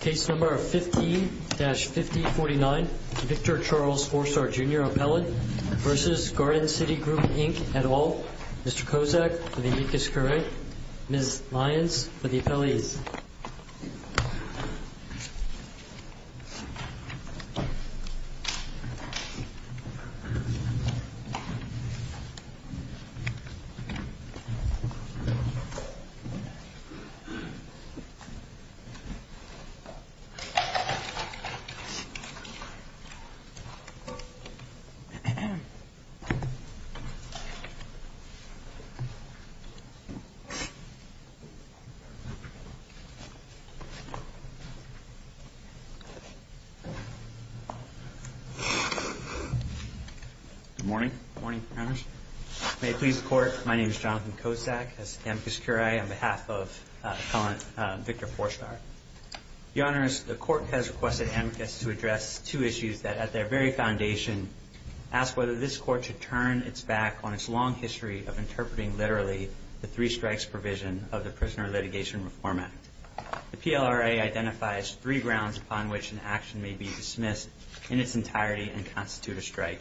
Case number 15-5049, Victor Charles Fourstar, Jr. Appellant v. Garden City Group, Inc. et al. Mr. Kozak for the amicus curre, Ms. Lyons for the appellees. Good morning. Good morning. May it please the Court, my name is Jonathan Kozak, as amicus curre, on behalf of Appellant Victor Fourstar. Your Honors, the Court has requested amicus to address two issues that at their very foundation ask whether this Court should turn its back on its long history of interpreting literally the three strikes provision of the Prisoner Litigation Reform Act. The PLRA identifies three grounds upon which an action may be dismissed in its entirety and constitute a strike.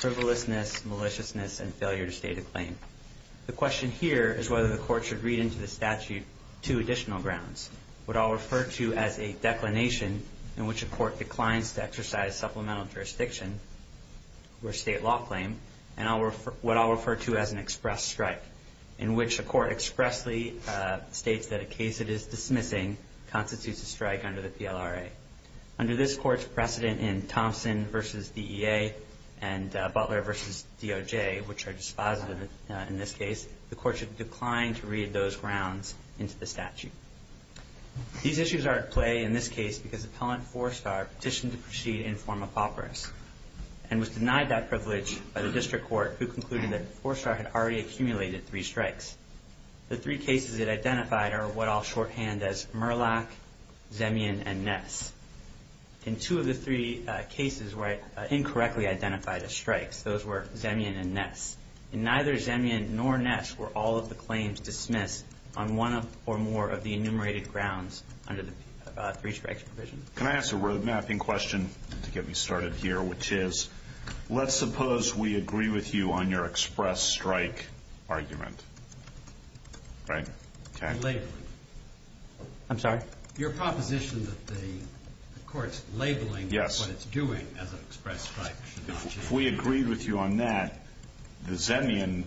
Frivolousness, maliciousness, and failure to state a claim. The question here is whether the Court should read into the statute two additional grounds, what I'll refer to as a declination in which a court declines to exercise supplemental jurisdiction or state law claim, and what I'll refer to as an express strike, in which a court expressly states that a case it is dismissing constitutes a strike under the PLRA. Under this Court's precedent in Thompson v. DEA and Butler v. DOJ, which are dispositive in this case, the Court should decline to read those grounds into the statute. These issues are at play in this case because Appellant Fourstar petitioned to proceed in form of operas and was denied that privilege by the District Court, who concluded that Fourstar had already accumulated three strikes. The three cases it identified are what I'll shorthand as Murlock, Zemian, and Ness. And two of the three cases were incorrectly identified as strikes. Those were Zemian and Ness. And neither Zemian nor Ness were all of the claims dismissed on one or more of the enumerated grounds under the three strikes provision. Can I ask a road mapping question to get me started here? Which is, let's suppose we agree with you on your express strike argument. Right? I'm sorry? Your proposition that the Court's labeling what it's doing as an express strike. If we agree with you on that, the Zemian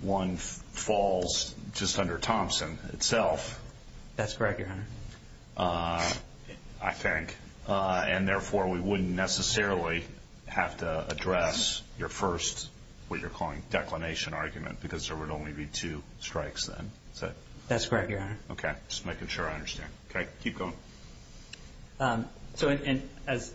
one falls just under Thompson itself. That's correct, Your Honor. I think. And therefore, we wouldn't necessarily have to address your first what you're calling declination argument because there would only be two strikes then. That's correct, Your Honor. Okay. Just making sure I understand. Okay. Keep going. So as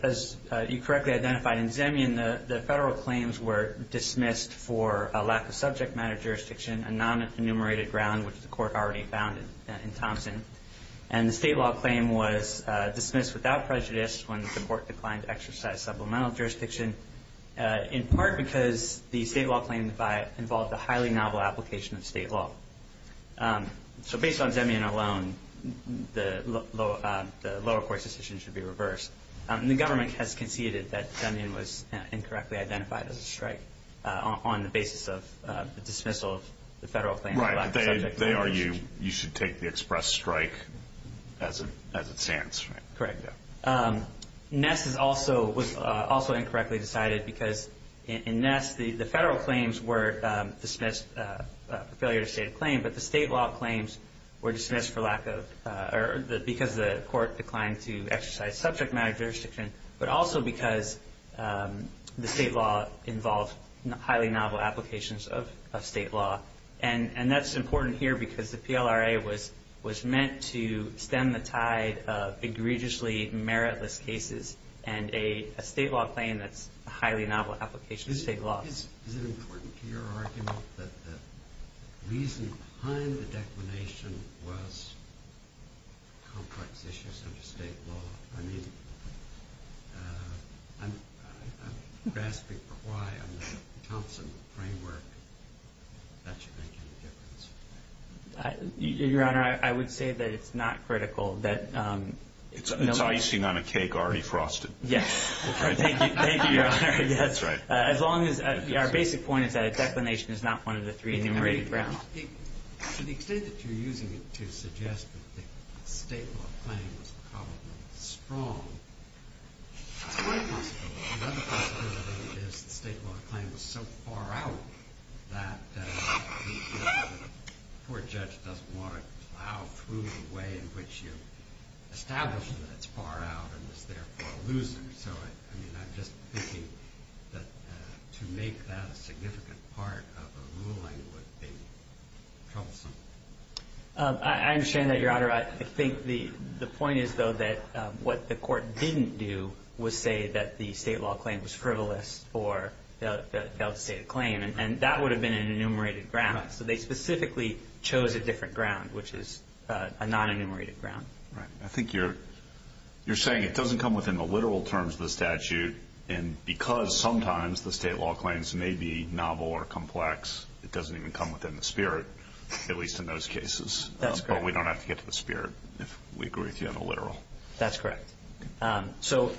you correctly identified in Zemian, the federal claims were dismissed for a lack of subject matter jurisdiction, a non-enumerated ground which the Court already found in Thompson. And the state law claim was dismissed without prejudice when the Court declined to exercise supplemental jurisdiction, in part because the state law claim involved a highly novel application of state law. So based on Zemian alone, the lower court's decision should be reversed. The government has conceded that Zemian was incorrectly identified as a strike on the basis of the dismissal of the federal claims. Right. They argue you should take the express strike as it stands. Correct. Ness was also incorrectly decided because in Ness, the federal claims were dismissed for failure to state a claim, but the state law claims were dismissed because the Court declined to exercise subject matter jurisdiction, but also because the state law involved highly novel applications of state law. And that's important here because the PLRA was meant to stem the tide of egregiously meritless cases and a state law claim that's a highly novel application of state law. Is it important to your argument that the reason behind the declination was complex issues under state law? I mean, I'm grasping for why on the Thompson framework that should make any difference. Your Honor, I would say that it's not critical that no one- It's icing on a cake already frosted. Yes. Thank you, Your Honor. That's right. As long as our basic point is that a declination is not one of the three enumerated grounds. To the extent that you're using it to suggest that the state law claim was probably strong, it's quite possible. Another possibility is the state law claim was so far out that the court judge doesn't want to plow through the way in which you establish that it's far out and is therefore a loser. So, I mean, I'm just thinking that to make that a significant part of a ruling would be troublesome. I understand that, Your Honor. I think the point is, though, that what the court didn't do was say that the state law claim was frivolous or a failed state claim. And that would have been an enumerated ground. So they specifically chose a different ground, which is a non-enumerated ground. Right. I think you're saying it doesn't come within the literal terms of the statute. And because sometimes the state law claims may be novel or complex, it doesn't even come within the spirit, at least in those cases. That's correct. But we don't have to get to the spirit if we agree with you on the literal. That's correct. So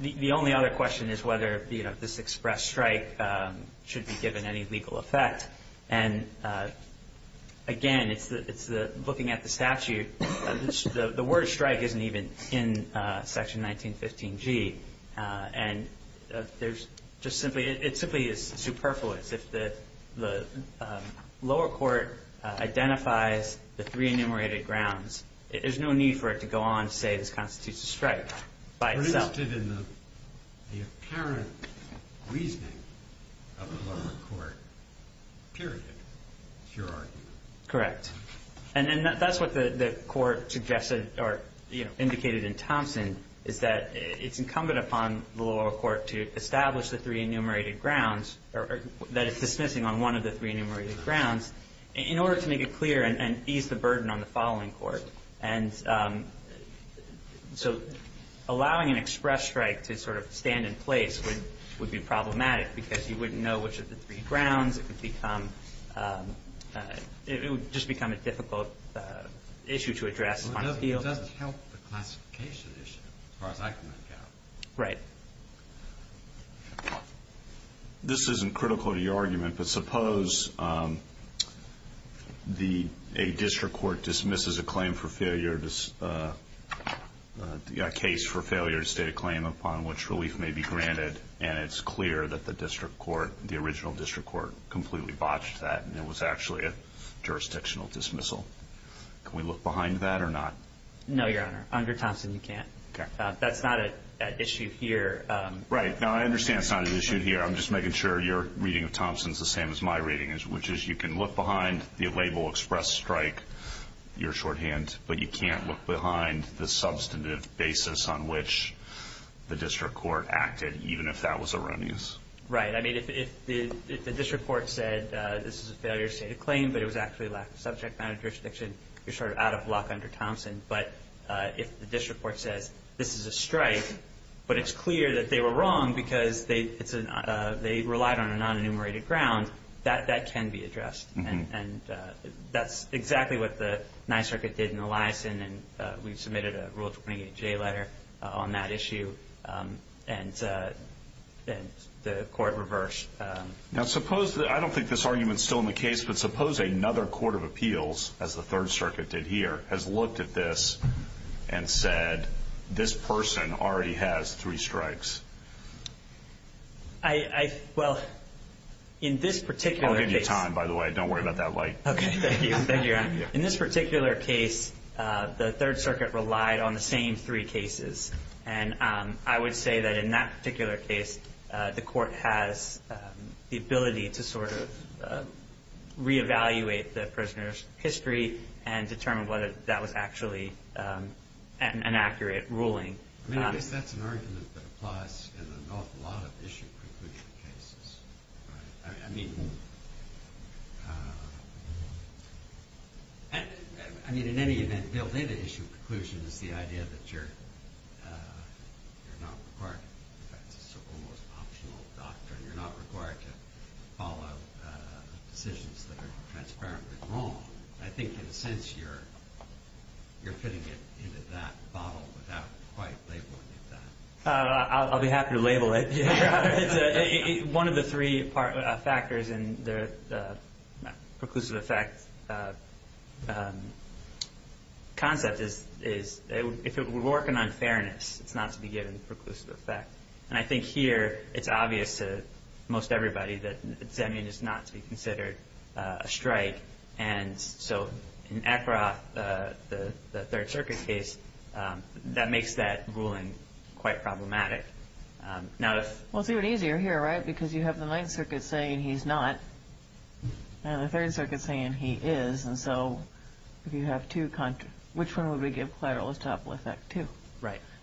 the only other question is whether this express strike should be given any legal effect. And, again, looking at the statute, the word strike isn't even in Section 1915G. And it simply is superfluous. If the lower court identifies the three enumerated grounds, there's no need for it to go on to say this constitutes a strike by itself. It's just in the apparent reasoning of the lower court, period, is your argument. Correct. And that's what the court suggested or indicated in Thompson, is that it's incumbent upon the lower court to establish the three enumerated grounds, or that it's dismissing on one of the three enumerated grounds, in order to make it clear and ease the burden on the following court. And so allowing an express strike to sort of stand in place would be problematic, because you wouldn't know which of the three grounds. It would just become a difficult issue to address on appeal. It doesn't help the classification issue, as far as I can make out. Right. This isn't critical to your argument, but suppose a district court dismisses a claim for failure, a case for failure to state a claim upon which relief may be granted, and it's clear that the district court, the original district court, completely botched that, and it was actually a jurisdictional dismissal. Can we look behind that or not? No, Your Honor. Under Thompson, you can't. Okay. That's not an issue here. Right. No, I understand it's not an issue here. I'm just making sure your reading of Thompson is the same as my reading, which is you can look behind the label express strike, your shorthand, but you can't look behind the substantive basis on which the district court acted, even if that was erroneous. Right. I mean, if the district court said, this is a failure to state a claim, but it was actually a lack of subject matter jurisdiction, you're sort of out of luck under Thompson. But if the district court says, this is a strike, but it's clear that they were wrong because they relied on a non-enumerated ground, that can be addressed. And that's exactly what the Ninth Circuit did in Eliason, and we submitted a Rule 28J letter on that issue, and the court reversed. Now, suppose the – I don't think this argument is still in the case, but suppose another court of appeals, as the Third Circuit did here, has looked at this and said, this person already has three strikes. I – well, in this particular case – I'll give you time, by the way. Don't worry about that light. Okay. Thank you. Thank you. In this particular case, the Third Circuit relied on the same three cases, and I would say that in that particular case, the court has the ability to sort of reevaluate the prisoner's history and determine whether that was actually an accurate ruling. I mean, I guess that's an argument that applies in an awful lot of issue-conclusion cases. I mean, in any event, Bill, I would say that issue-conclusion is the idea that you're not required – in fact, it's an almost optional doctrine. You're not required to follow decisions that are transparently wrong. I think, in a sense, you're fitting it into that bottle without quite labeling it that. I'll be happy to label it. One of the three factors in the preclusive effect concept is, if we're working on fairness, it's not to be given the preclusive effect. And I think here it's obvious to most everybody that Zemian is not to be considered a strike. And so in Ekroth, the Third Circuit case, that makes that ruling quite problematic. Well, it's even easier here, right, because you have the Ninth Circuit saying he's not and the Third Circuit saying he is. And so if you have two – which one would we give collateral as topical effect to?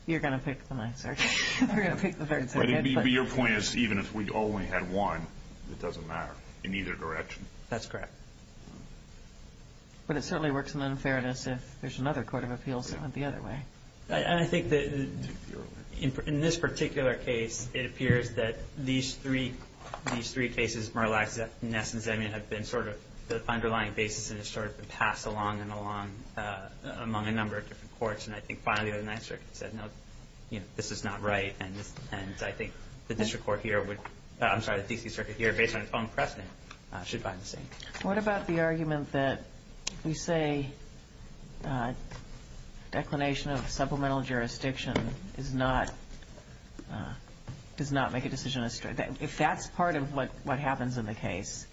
You're going to pick the Ninth Circuit. You're going to pick the Third Circuit. But your point is, even if we only had one, it doesn't matter in either direction. That's correct. But it certainly works in unfairness if there's another court of appeals that went the other way. And I think that in this particular case, it appears that these three cases, Murlock, Ness, and Zemian, have been sort of the underlying basis and have sort of been passed along and along among a number of different courts. And I think finally the Ninth Circuit said, no, this is not right. And I think the district court here would – I'm sorry, the D.C. Circuit here, based on its own precedent, should find the same. What about the argument that we say declination of supplemental jurisdiction does not make a decision a strike? If that's part of what happens in the case,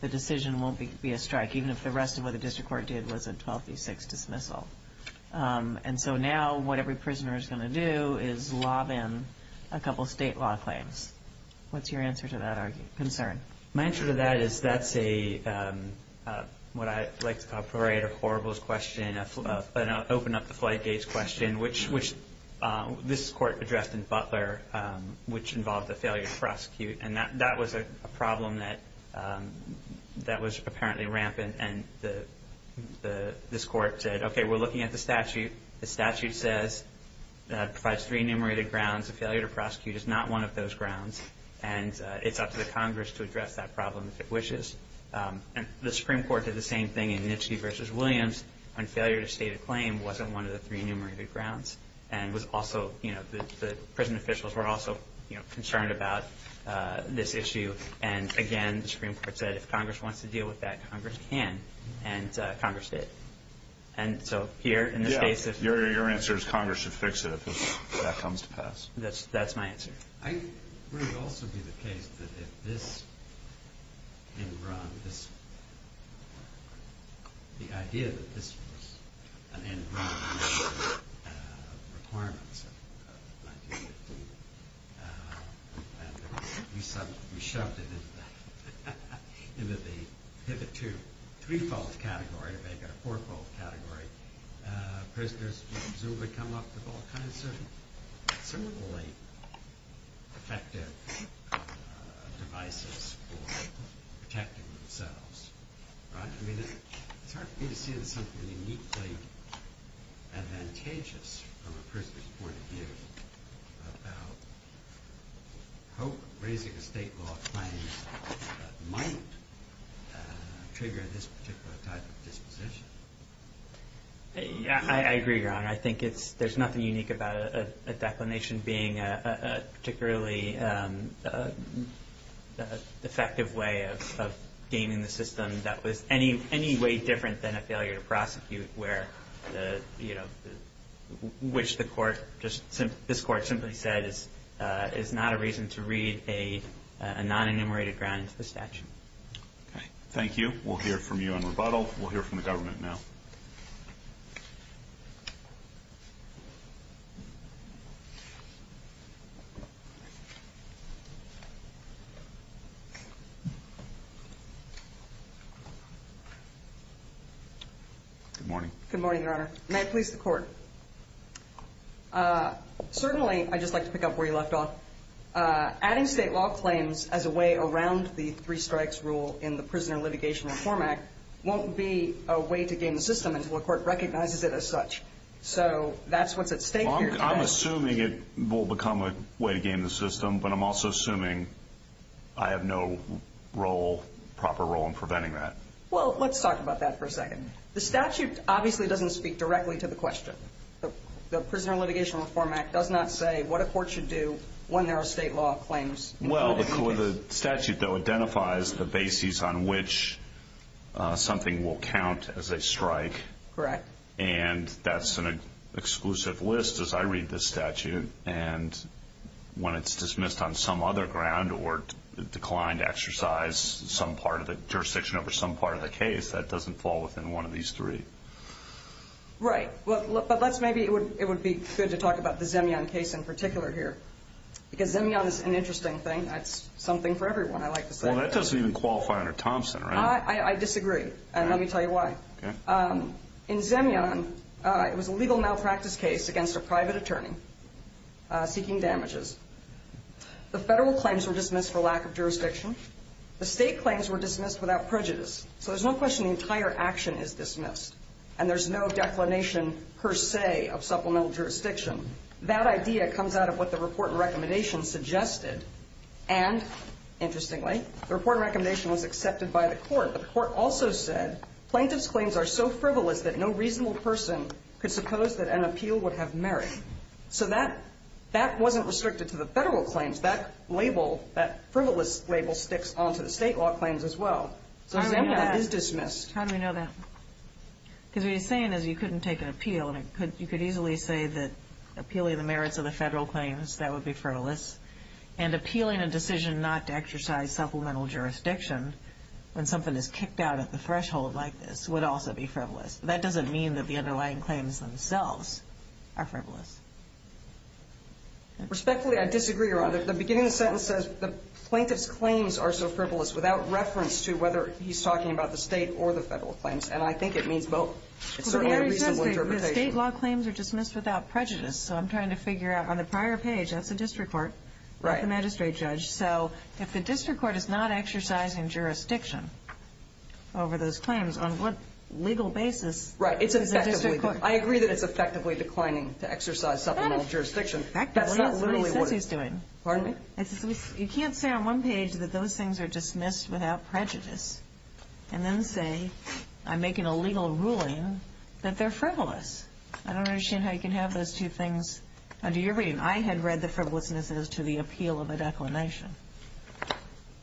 the decision won't be a strike, even if the rest of what the district court did was a 12 v. 6 dismissal. And so now what every prisoner is going to do is lob in a couple state law claims. What's your answer to that concern? My answer to that is that's a – what I like to call a parade of horribles question, an open-up-the-flight-gates question, which this court addressed in Butler, which involved a failure to prosecute. And that was a problem that was apparently rampant. And this court said, okay, we're looking at the statute. The statute says it provides three enumerated grounds. A failure to prosecute is not one of those grounds. And it's up to the Congress to address that problem if it wishes. And the Supreme Court did the same thing in Nitschke v. Williams on failure to state a claim wasn't one of the three enumerated grounds. And was also, you know, the prison officials were also concerned about this issue. And, again, the Supreme Court said if Congress wants to deal with that, Congress can. And Congress did. And so here in this case if – Your answer is Congress should fix it if that comes to pass. That's my answer. I think it would also be the case that if this engram, this – the idea that this was an engram of requirements of 1915 and that we shoved it into the Pivot 2 three-fold category or maybe a four-fold category, prisoners would presumably come up with all kinds of similarly effective devices for protecting themselves, right? I mean, it's hard for me to see it as something uniquely advantageous from a prisoner's point of view about how raising a state law claim might trigger this particular type of disposition. Yeah, I agree, Your Honor. I think it's – there's nothing unique about a declination being a particularly effective way of gaining the system that was any way different than a failure to prosecute where, you know, which the court just – this court simply said is not a reason to read a non-enumerated ground into the statute. Okay. Thank you. We'll hear from you in rebuttal. We'll hear from the government now. Good morning. Good morning, Your Honor. May it please the Court. Certainly, I'd just like to pick up where you left off. Adding state law claims as a way around the three strikes rule in the Prisoner Litigation Reform Act won't be a way to gain the system until a court recognizes it as such. So that's what's at stake here today. Well, I'm assuming it will become a way to gain the system, but I'm also assuming I have no role, proper role in preventing that. Well, let's talk about that for a second. The statute obviously doesn't speak directly to the question. The Prisoner Litigation Reform Act does not say what a court should do when there are state law claims. Well, the statute, though, identifies the basis on which something will count as a strike. Correct. And that's an exclusive list as I read this statute. And when it's dismissed on some other ground or declined to exercise some part of the jurisdiction over some part of the case, that doesn't fall within one of these three. Right. But maybe it would be good to talk about the Zemion case in particular here because Zemion is an interesting thing. That's something for everyone, I like to say. Well, that doesn't even qualify under Thompson, right? I disagree, and let me tell you why. In Zemion, it was a legal malpractice case against a private attorney seeking damages. The federal claims were dismissed for lack of jurisdiction. The state claims were dismissed without prejudice. So there's no question the entire action is dismissed, and there's no declination per se of supplemental jurisdiction. That idea comes out of what the report and recommendation suggested. And, interestingly, the report and recommendation was accepted by the court, but the court also said, Plaintiff's claims are so frivolous that no reasonable person could suppose that an appeal would have merit. So that wasn't restricted to the federal claims. That label, that frivolous label, sticks onto the state law claims as well. So Zemion is dismissed. How do we know that? Because what he's saying is you couldn't take an appeal, and you could easily say that appealing the merits of the federal claims, that would be frivolous, and appealing a decision not to exercise supplemental jurisdiction when something is kicked out at the threshold like this would also be frivolous. That doesn't mean that the underlying claims themselves are frivolous. Respectfully, I disagree, Your Honor. The beginning of the sentence says the plaintiff's claims are so frivolous without reference to whether he's talking about the state or the federal claims, and I think it means both. It's certainly a reasonable interpretation. The state law claims are dismissed without prejudice, so I'm trying to figure out on the prior page that's the district court, not the magistrate judge. So if the district court is not exercising jurisdiction over those claims, on what legal basis is the district court? I agree that it's effectively declining to exercise supplemental jurisdiction. That's not literally what he's doing. Pardon me? You can't say on one page that those things are dismissed without prejudice and then say I'm making a legal ruling that they're frivolous. I don't understand how you can have those two things under your reading. I had read the frivolousness as to the appeal of a declination.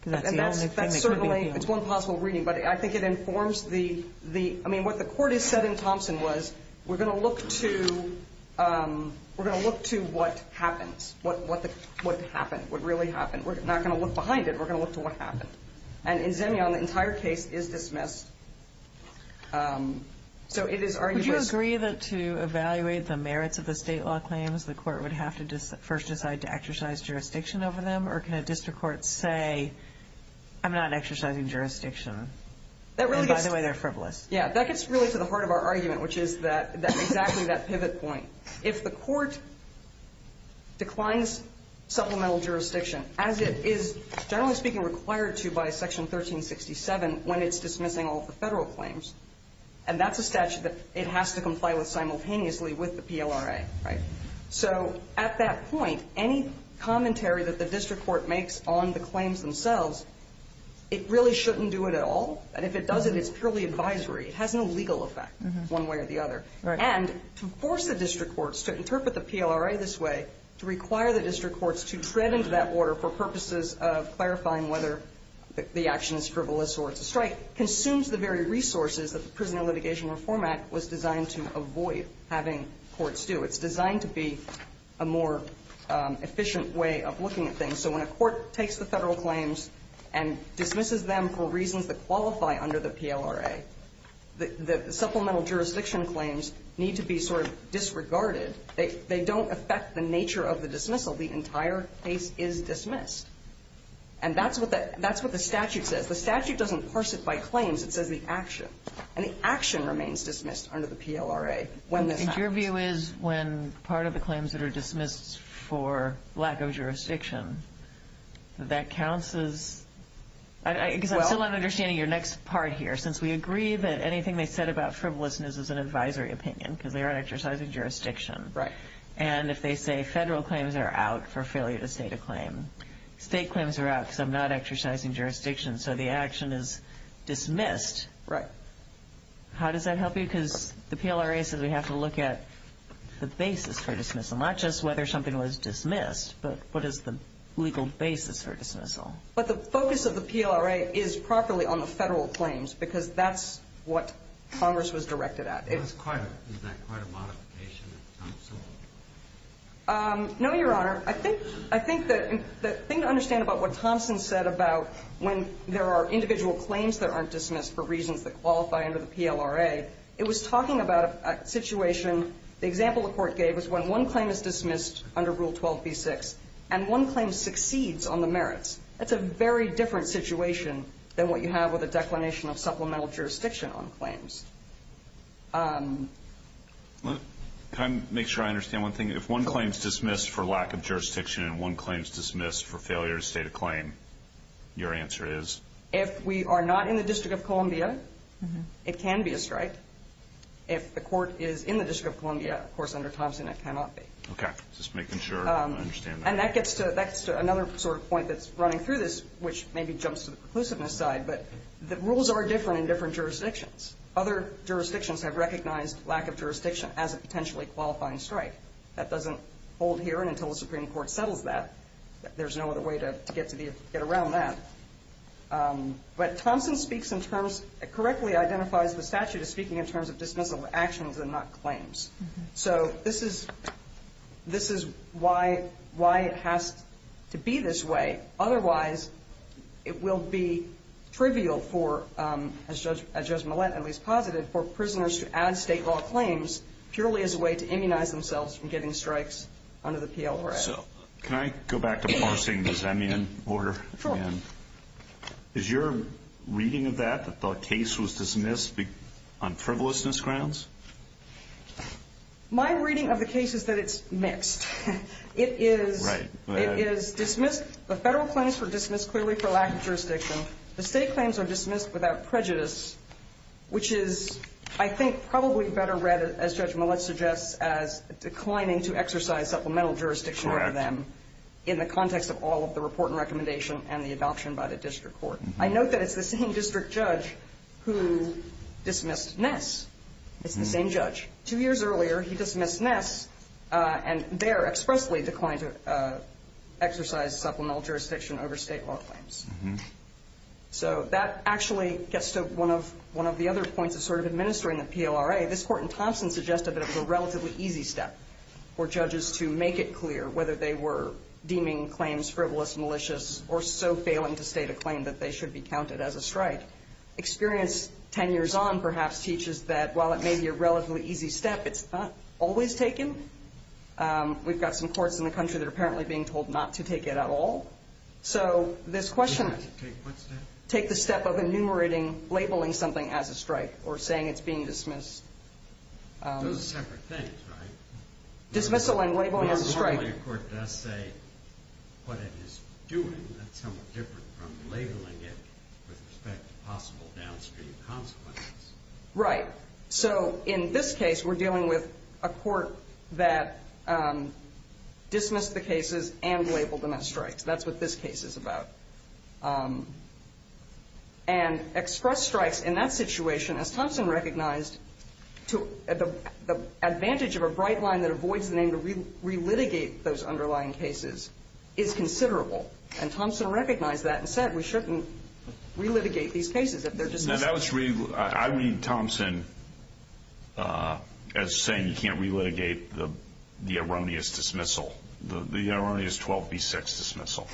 That's certainly one possible reading, but I think it informs the – because we're going to look to what happens, what happened, what really happened. We're not going to look behind it. We're going to look to what happened. And in Zemion, the entire case is dismissed. So it is arguable. Would you agree that to evaluate the merits of the state law claims, the court would have to first decide to exercise jurisdiction over them, or can a district court say I'm not exercising jurisdiction and, by the way, they're frivolous? Yeah, that gets really to the heart of our argument, which is exactly that pivot point. If the court declines supplemental jurisdiction, as it is, generally speaking, required to by Section 1367 when it's dismissing all of the Federal claims, and that's a statute that it has to comply with simultaneously with the PLRA, right? So at that point, any commentary that the district court makes on the claims themselves, it really shouldn't do it at all. And if it doesn't, it's purely advisory. It has no legal effect one way or the other. And to force the district courts to interpret the PLRA this way, to require the district courts to tread into that order for purposes of clarifying whether the action is frivolous or it's a strike, consumes the very resources that the Prisoner Litigation Reform Act was designed to avoid having courts do. It's designed to be a more efficient way of looking at things. So when a court takes the Federal claims and dismisses them for reasons that qualify under the PLRA, the supplemental jurisdiction claims need to be sort of disregarded. They don't affect the nature of the dismissal. The entire case is dismissed. And that's what the statute says. The statute doesn't parse it by claims. It says the action. And the action remains dismissed under the PLRA. And your view is when part of the claims that are dismissed for lack of jurisdiction, that counts as – because I'm still not understanding your next part here. Since we agree that anything they said about frivolousness is an advisory opinion because they aren't exercising jurisdiction. Right. And if they say Federal claims are out for failure to state a claim, state claims are out because I'm not exercising jurisdiction, so the action is dismissed. Right. How does that help you? Because the PLRA says we have to look at the basis for dismissal, not just whether something was dismissed, but what is the legal basis for dismissal. But the focus of the PLRA is properly on the Federal claims because that's what Congress was directed at. Isn't that quite a modification of Thompson? No, Your Honor. I think the thing to understand about what Thompson said about when there are individual claims that aren't dismissed for reasons that qualify under the PLRA, it was talking about a situation. The example the Court gave was when one claim is dismissed under Rule 12b-6 and one claim succeeds on the merits. That's a very different situation than what you have with a declination of supplemental jurisdiction on claims. Can I make sure I understand one thing? If one claim is dismissed for lack of jurisdiction and one claim is dismissed for failure to state a claim, your answer is? If we are not in the District of Columbia, it can be a strike. If the Court is in the District of Columbia, of course, under Thompson, it cannot be. Okay, just making sure I understand that. And that gets to another sort of point that's running through this, which maybe jumps to the preclusiveness side, but the rules are different in different jurisdictions. Other jurisdictions have recognized lack of jurisdiction as a potentially qualifying strike. That doesn't hold here, and until the Supreme Court settles that, there's no other way to get around that. But Thompson speaks in terms of, correctly identifies the statute as speaking in terms of dismissal of actions and not claims. So this is why it has to be this way. Otherwise, it will be trivial for, as Judge Millett at least posited, for prisoners to add state law claims purely as a way to immunize themselves from getting strikes under the PLO Act. Can I go back to parsing the Zemian order? Sure. Is your reading of that, that the case was dismissed on frivolousness grounds? My reading of the case is that it's mixed. It is dismissed. The federal claims were dismissed clearly for lack of jurisdiction. The state claims are dismissed without prejudice, which is, I think, probably better read, as Judge Millett suggests, as declining to exercise supplemental jurisdiction over them in the context of all of the report and recommendation and the adoption by the district court. I note that it's the same district judge who dismissed Ness. It's the same judge. Two years earlier, he dismissed Ness, and there expressly declined to exercise supplemental jurisdiction over state law claims. So that actually gets to one of the other points of sort of administering the PLRA. By the way, this court in Thompson suggested that it was a relatively easy step for judges to make it clear whether they were deeming claims frivolous, malicious, or so failing to state a claim that they should be counted as a strike. Experience 10 years on, perhaps, teaches that while it may be a relatively easy step, it's not always taken. We've got some courts in the country that are apparently being told not to take it at all. So this question of take the step of enumerating, labeling something as a strike, or saying it's being dismissed. Those are separate things, right? Dismissal and labeling as a strike. Normally a court does say what it is doing. That's somewhat different from labeling it with respect to possible downstream consequences. Right. So in this case, we're dealing with a court that dismissed the cases and labeled them as strikes. That's what this case is about. And express strikes in that situation, as Thompson recognized, the advantage of a bright line that avoids the need to relitigate those underlying cases is considerable. And Thompson recognized that and said we shouldn't relitigate these cases if they're dismissed. I read Thompson as saying you can't relitigate the erroneous dismissal, the erroneous 12B6 dismissal.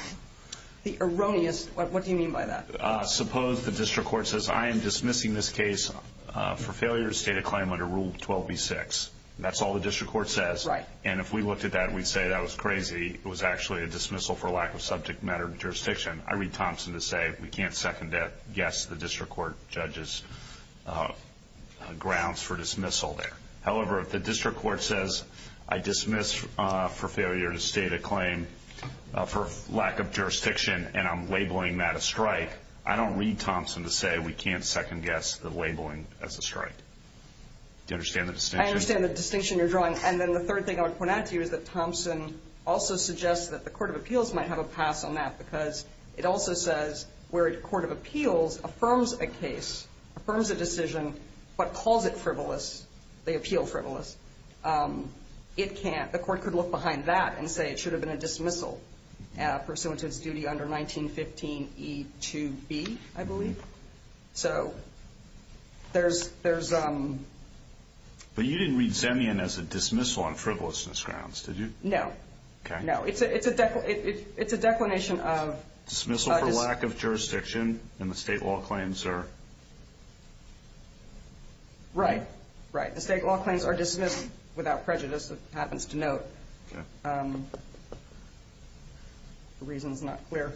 The erroneous? What do you mean by that? Suppose the district court says I am dismissing this case for failure to state a claim under Rule 12B6. That's all the district court says. Right. And if we looked at that, we'd say that was crazy. It was actually a dismissal for lack of subject matter jurisdiction. I read Thompson to say we can't second guess the district court judge's grounds for dismissal there. However, if the district court says I dismiss for failure to state a claim for lack of jurisdiction and I'm labeling that a strike, I don't read Thompson to say we can't second guess the labeling as a strike. Do you understand the distinction? I understand the distinction you're drawing. And then the third thing I would point out to you is that Thompson also suggests that the Court of Appeals might have a pass on that because it also says where a court of appeals affirms a case, affirms a decision, but calls it frivolous, they appeal frivolous. It can't. The court could look behind that and say it should have been a dismissal pursuant to its duty under 1915E2B, I believe. So there's ‑‑ But you didn't read Zemian as a dismissal on frivolousness grounds, did you? No. Okay. No. It's a declination of ‑‑ Dismissal for lack of jurisdiction and the state law claims are ‑‑ Right. Right. The state law claims are dismissed without prejudice, it happens to note. Okay. The reason is not clear.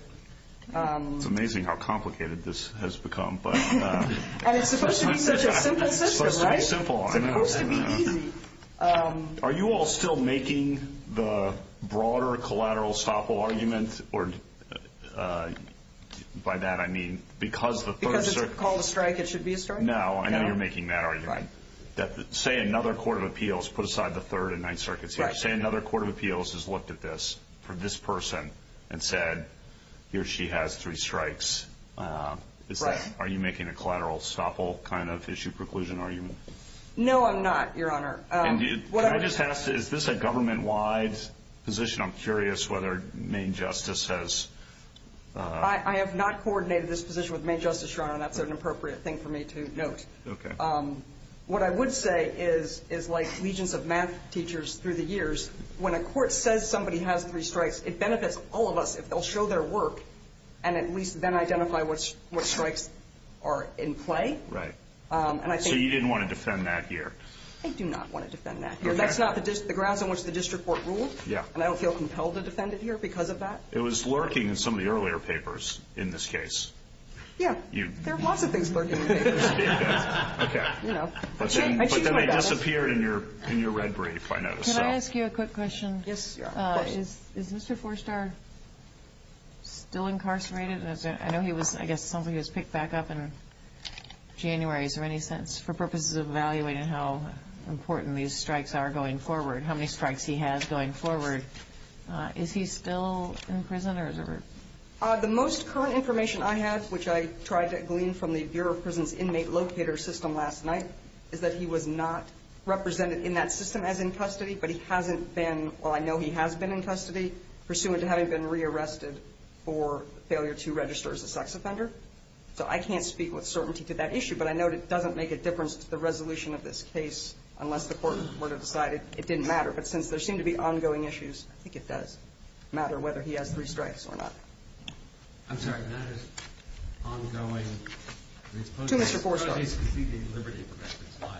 It's amazing how complicated this has become. And it's supposed to be such a simple system, right? It's supposed to be simple. It's supposed to be easy. Are you all still making the broader collateral stoppable argument? By that I mean because the third ‑‑ Because it's called a strike, it should be a strike? No, I know you're making that argument. Say another court of appeals put aside the third and ninth circuits here. Say another court of appeals has looked at this for this person and said here she has three strikes. Right. Are you making a collateral stoppable kind of issue preclusion argument? No, I'm not, Your Honor. Can I just ask, is this a government‑wide position? I'm curious whether Maine Justice has ‑‑ I have not coordinated this position with Maine Justice, Your Honor. That's an appropriate thing for me to note. Okay. What I would say is like legions of math teachers through the years, when a court says somebody has three strikes, it benefits all of us if they'll show their work and at least then identify what strikes are in play. Right. So you didn't want to defend that here? I do not want to defend that here. That's not the grounds on which the district court ruled. Yeah. And I don't feel compelled to defend it here because of that. It was lurking in some of the earlier papers in this case. Yeah. There are lots of things lurking in papers. Okay. But then they disappeared in your red brief, I noticed. Can I ask you a quick question? Yes, Your Honor. Is Mr. Forstar still incarcerated? I know he was, I guess, picked back up in January. Is there any sense for purposes of evaluating how important these strikes are going forward, how many strikes he has going forward, is he still in prison? The most current information I have, which I tried to glean from the Bureau of Prisons Inmate Locator System last night, is that he was not represented in that system as in custody, but he hasn't been, while I know he has been in custody, pursuant to having been re-arrested for failure to register as a sex offender. So I can't speak with certainty to that issue, but I know it doesn't make a difference to the resolution of this case unless the court were to decide it didn't matter. But since there seem to be ongoing issues, I think it does matter whether he has three strikes or not. I'm sorry. That is ongoing. To Mr. Forstar. But he's completely at liberty for that. That's why.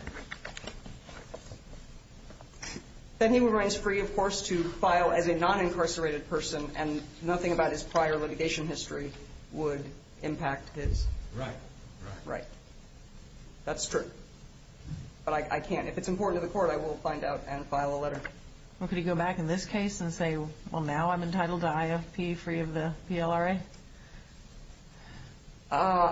Then he remains free, of course, to file as a non-incarcerated person, and nothing about his prior litigation history would impact his. Right. Right. That's true. But I can't. If it's important to the court, I will find out and file a letter. Could he go back in this case and say, well, now I'm entitled to IFP free of the PLRA?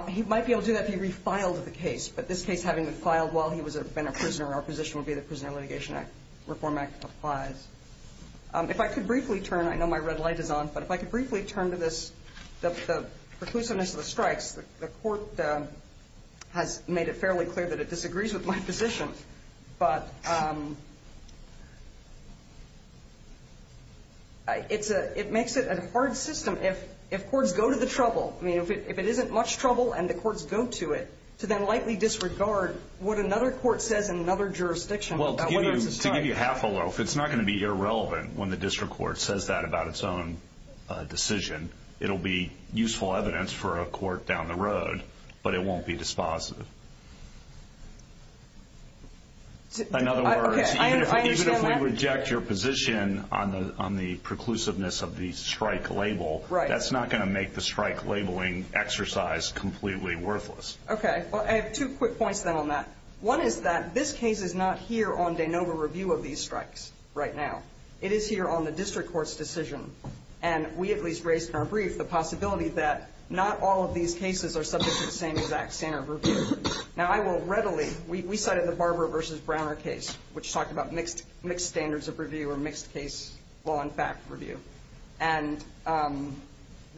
He might be able to do that if he refiled the case. But this case, having been filed while he had been a prisoner, our position would be the Prisoner Litigation Reform Act applies. If I could briefly turn, I know my red light is on, but if I could briefly turn to this, the preclusiveness of the strikes, the court has made it fairly clear that it disagrees with my position. But it makes it a hard system. If courts go to the trouble, I mean, if it isn't much trouble and the courts go to it, to then likely disregard what another court says in another jurisdiction. Well, to give you half a loaf, it's not going to be irrelevant when the district court says that about its own decision. It will be useful evidence for a court down the road, but it won't be dispositive. In other words, even if we reject your position on the preclusiveness of the strike labeling exercise, completely worthless. Okay. Well, I have two quick points then on that. One is that this case is not here on de novo review of these strikes right now. It is here on the district court's decision. And we at least raised in our brief the possibility that not all of these cases are subject to the same exact standard of review. Now, I will readily, we cited the Barber versus Browner case, which talked about mixed standards of review or mixed case law and fact review. And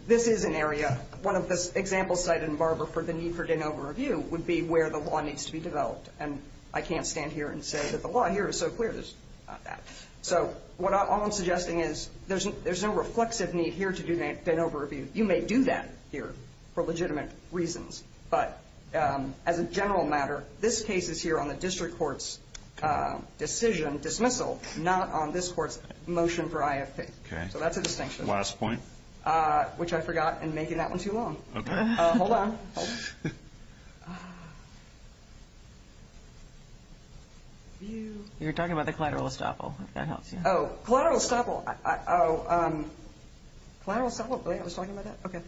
this is an area, one of the examples cited in Barber for the need for de novo review would be where the law needs to be developed. And I can't stand here and say that the law here is so clear. There's not that. So all I'm suggesting is there's no reflexive need here to do de novo review. You may do that here for legitimate reasons. But as a general matter, this case is here on the district court's decision, dismissal, not on this court's motion for IFP. So that's a distinction. Last point. Which I forgot in making that one too long. Okay. Hold on. You were talking about the collateral estoppel. If that helps you. Oh, collateral estoppel. Oh, collateral estoppel? I was talking about that? Okay.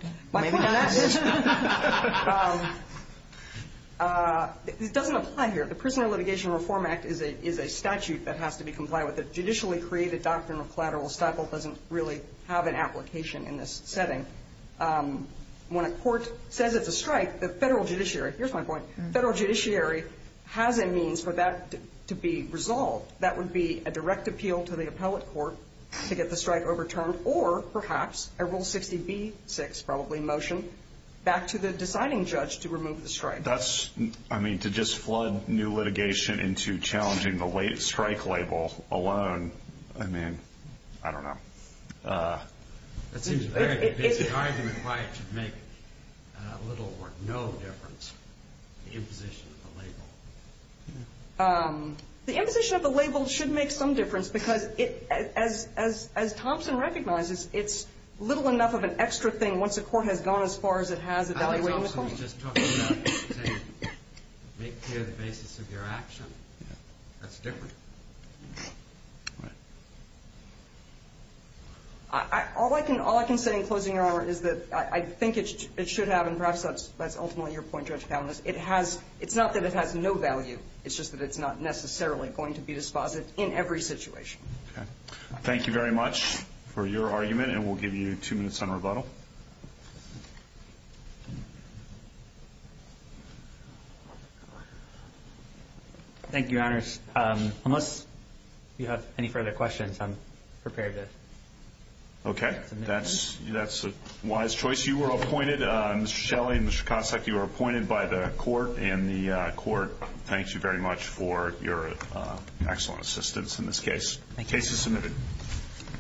It doesn't apply here. The Prisoner Litigation Reform Act is a statute that has to be complied with. The judicially created doctrine of collateral estoppel doesn't really have an application in this setting. When a court says it's a strike, the federal judiciary, here's my point, federal judiciary has a means for that to be resolved. That would be a direct appeal to the appellate court to get the strike overturned, or perhaps a Rule 60b-6 probably motion back to the deciding judge to remove the strike. That's, I mean, to just flood new litigation into challenging the late strike label alone, I mean, I don't know. It seems a very basic argument why it should make little or no difference, the imposition of the label. The imposition of the label should make some difference because, as Thompson recognizes, it's little enough of an extra thing once a court has gone as far as it has evaluating the claim. Thompson was just talking about saying make clear the basis of your action. That's different. All right. All I can say in closing your honor is that I think it should have, and perhaps that's ultimately your point, Judge Favonis, it's not that it has no value. It's just that it's not necessarily going to be dispositive in every situation. Okay. Thank you very much for your argument, and we'll give you two minutes on rebuttal. Thank you, your honors. Unless you have any further questions, I'm prepared to submit them. Okay. That's a wise choice. You were appointed, Mr. Shelley and Mr. Cossack, you were appointed by the court, and the court thanks you very much for your excellent assistance in this case. The case is submitted.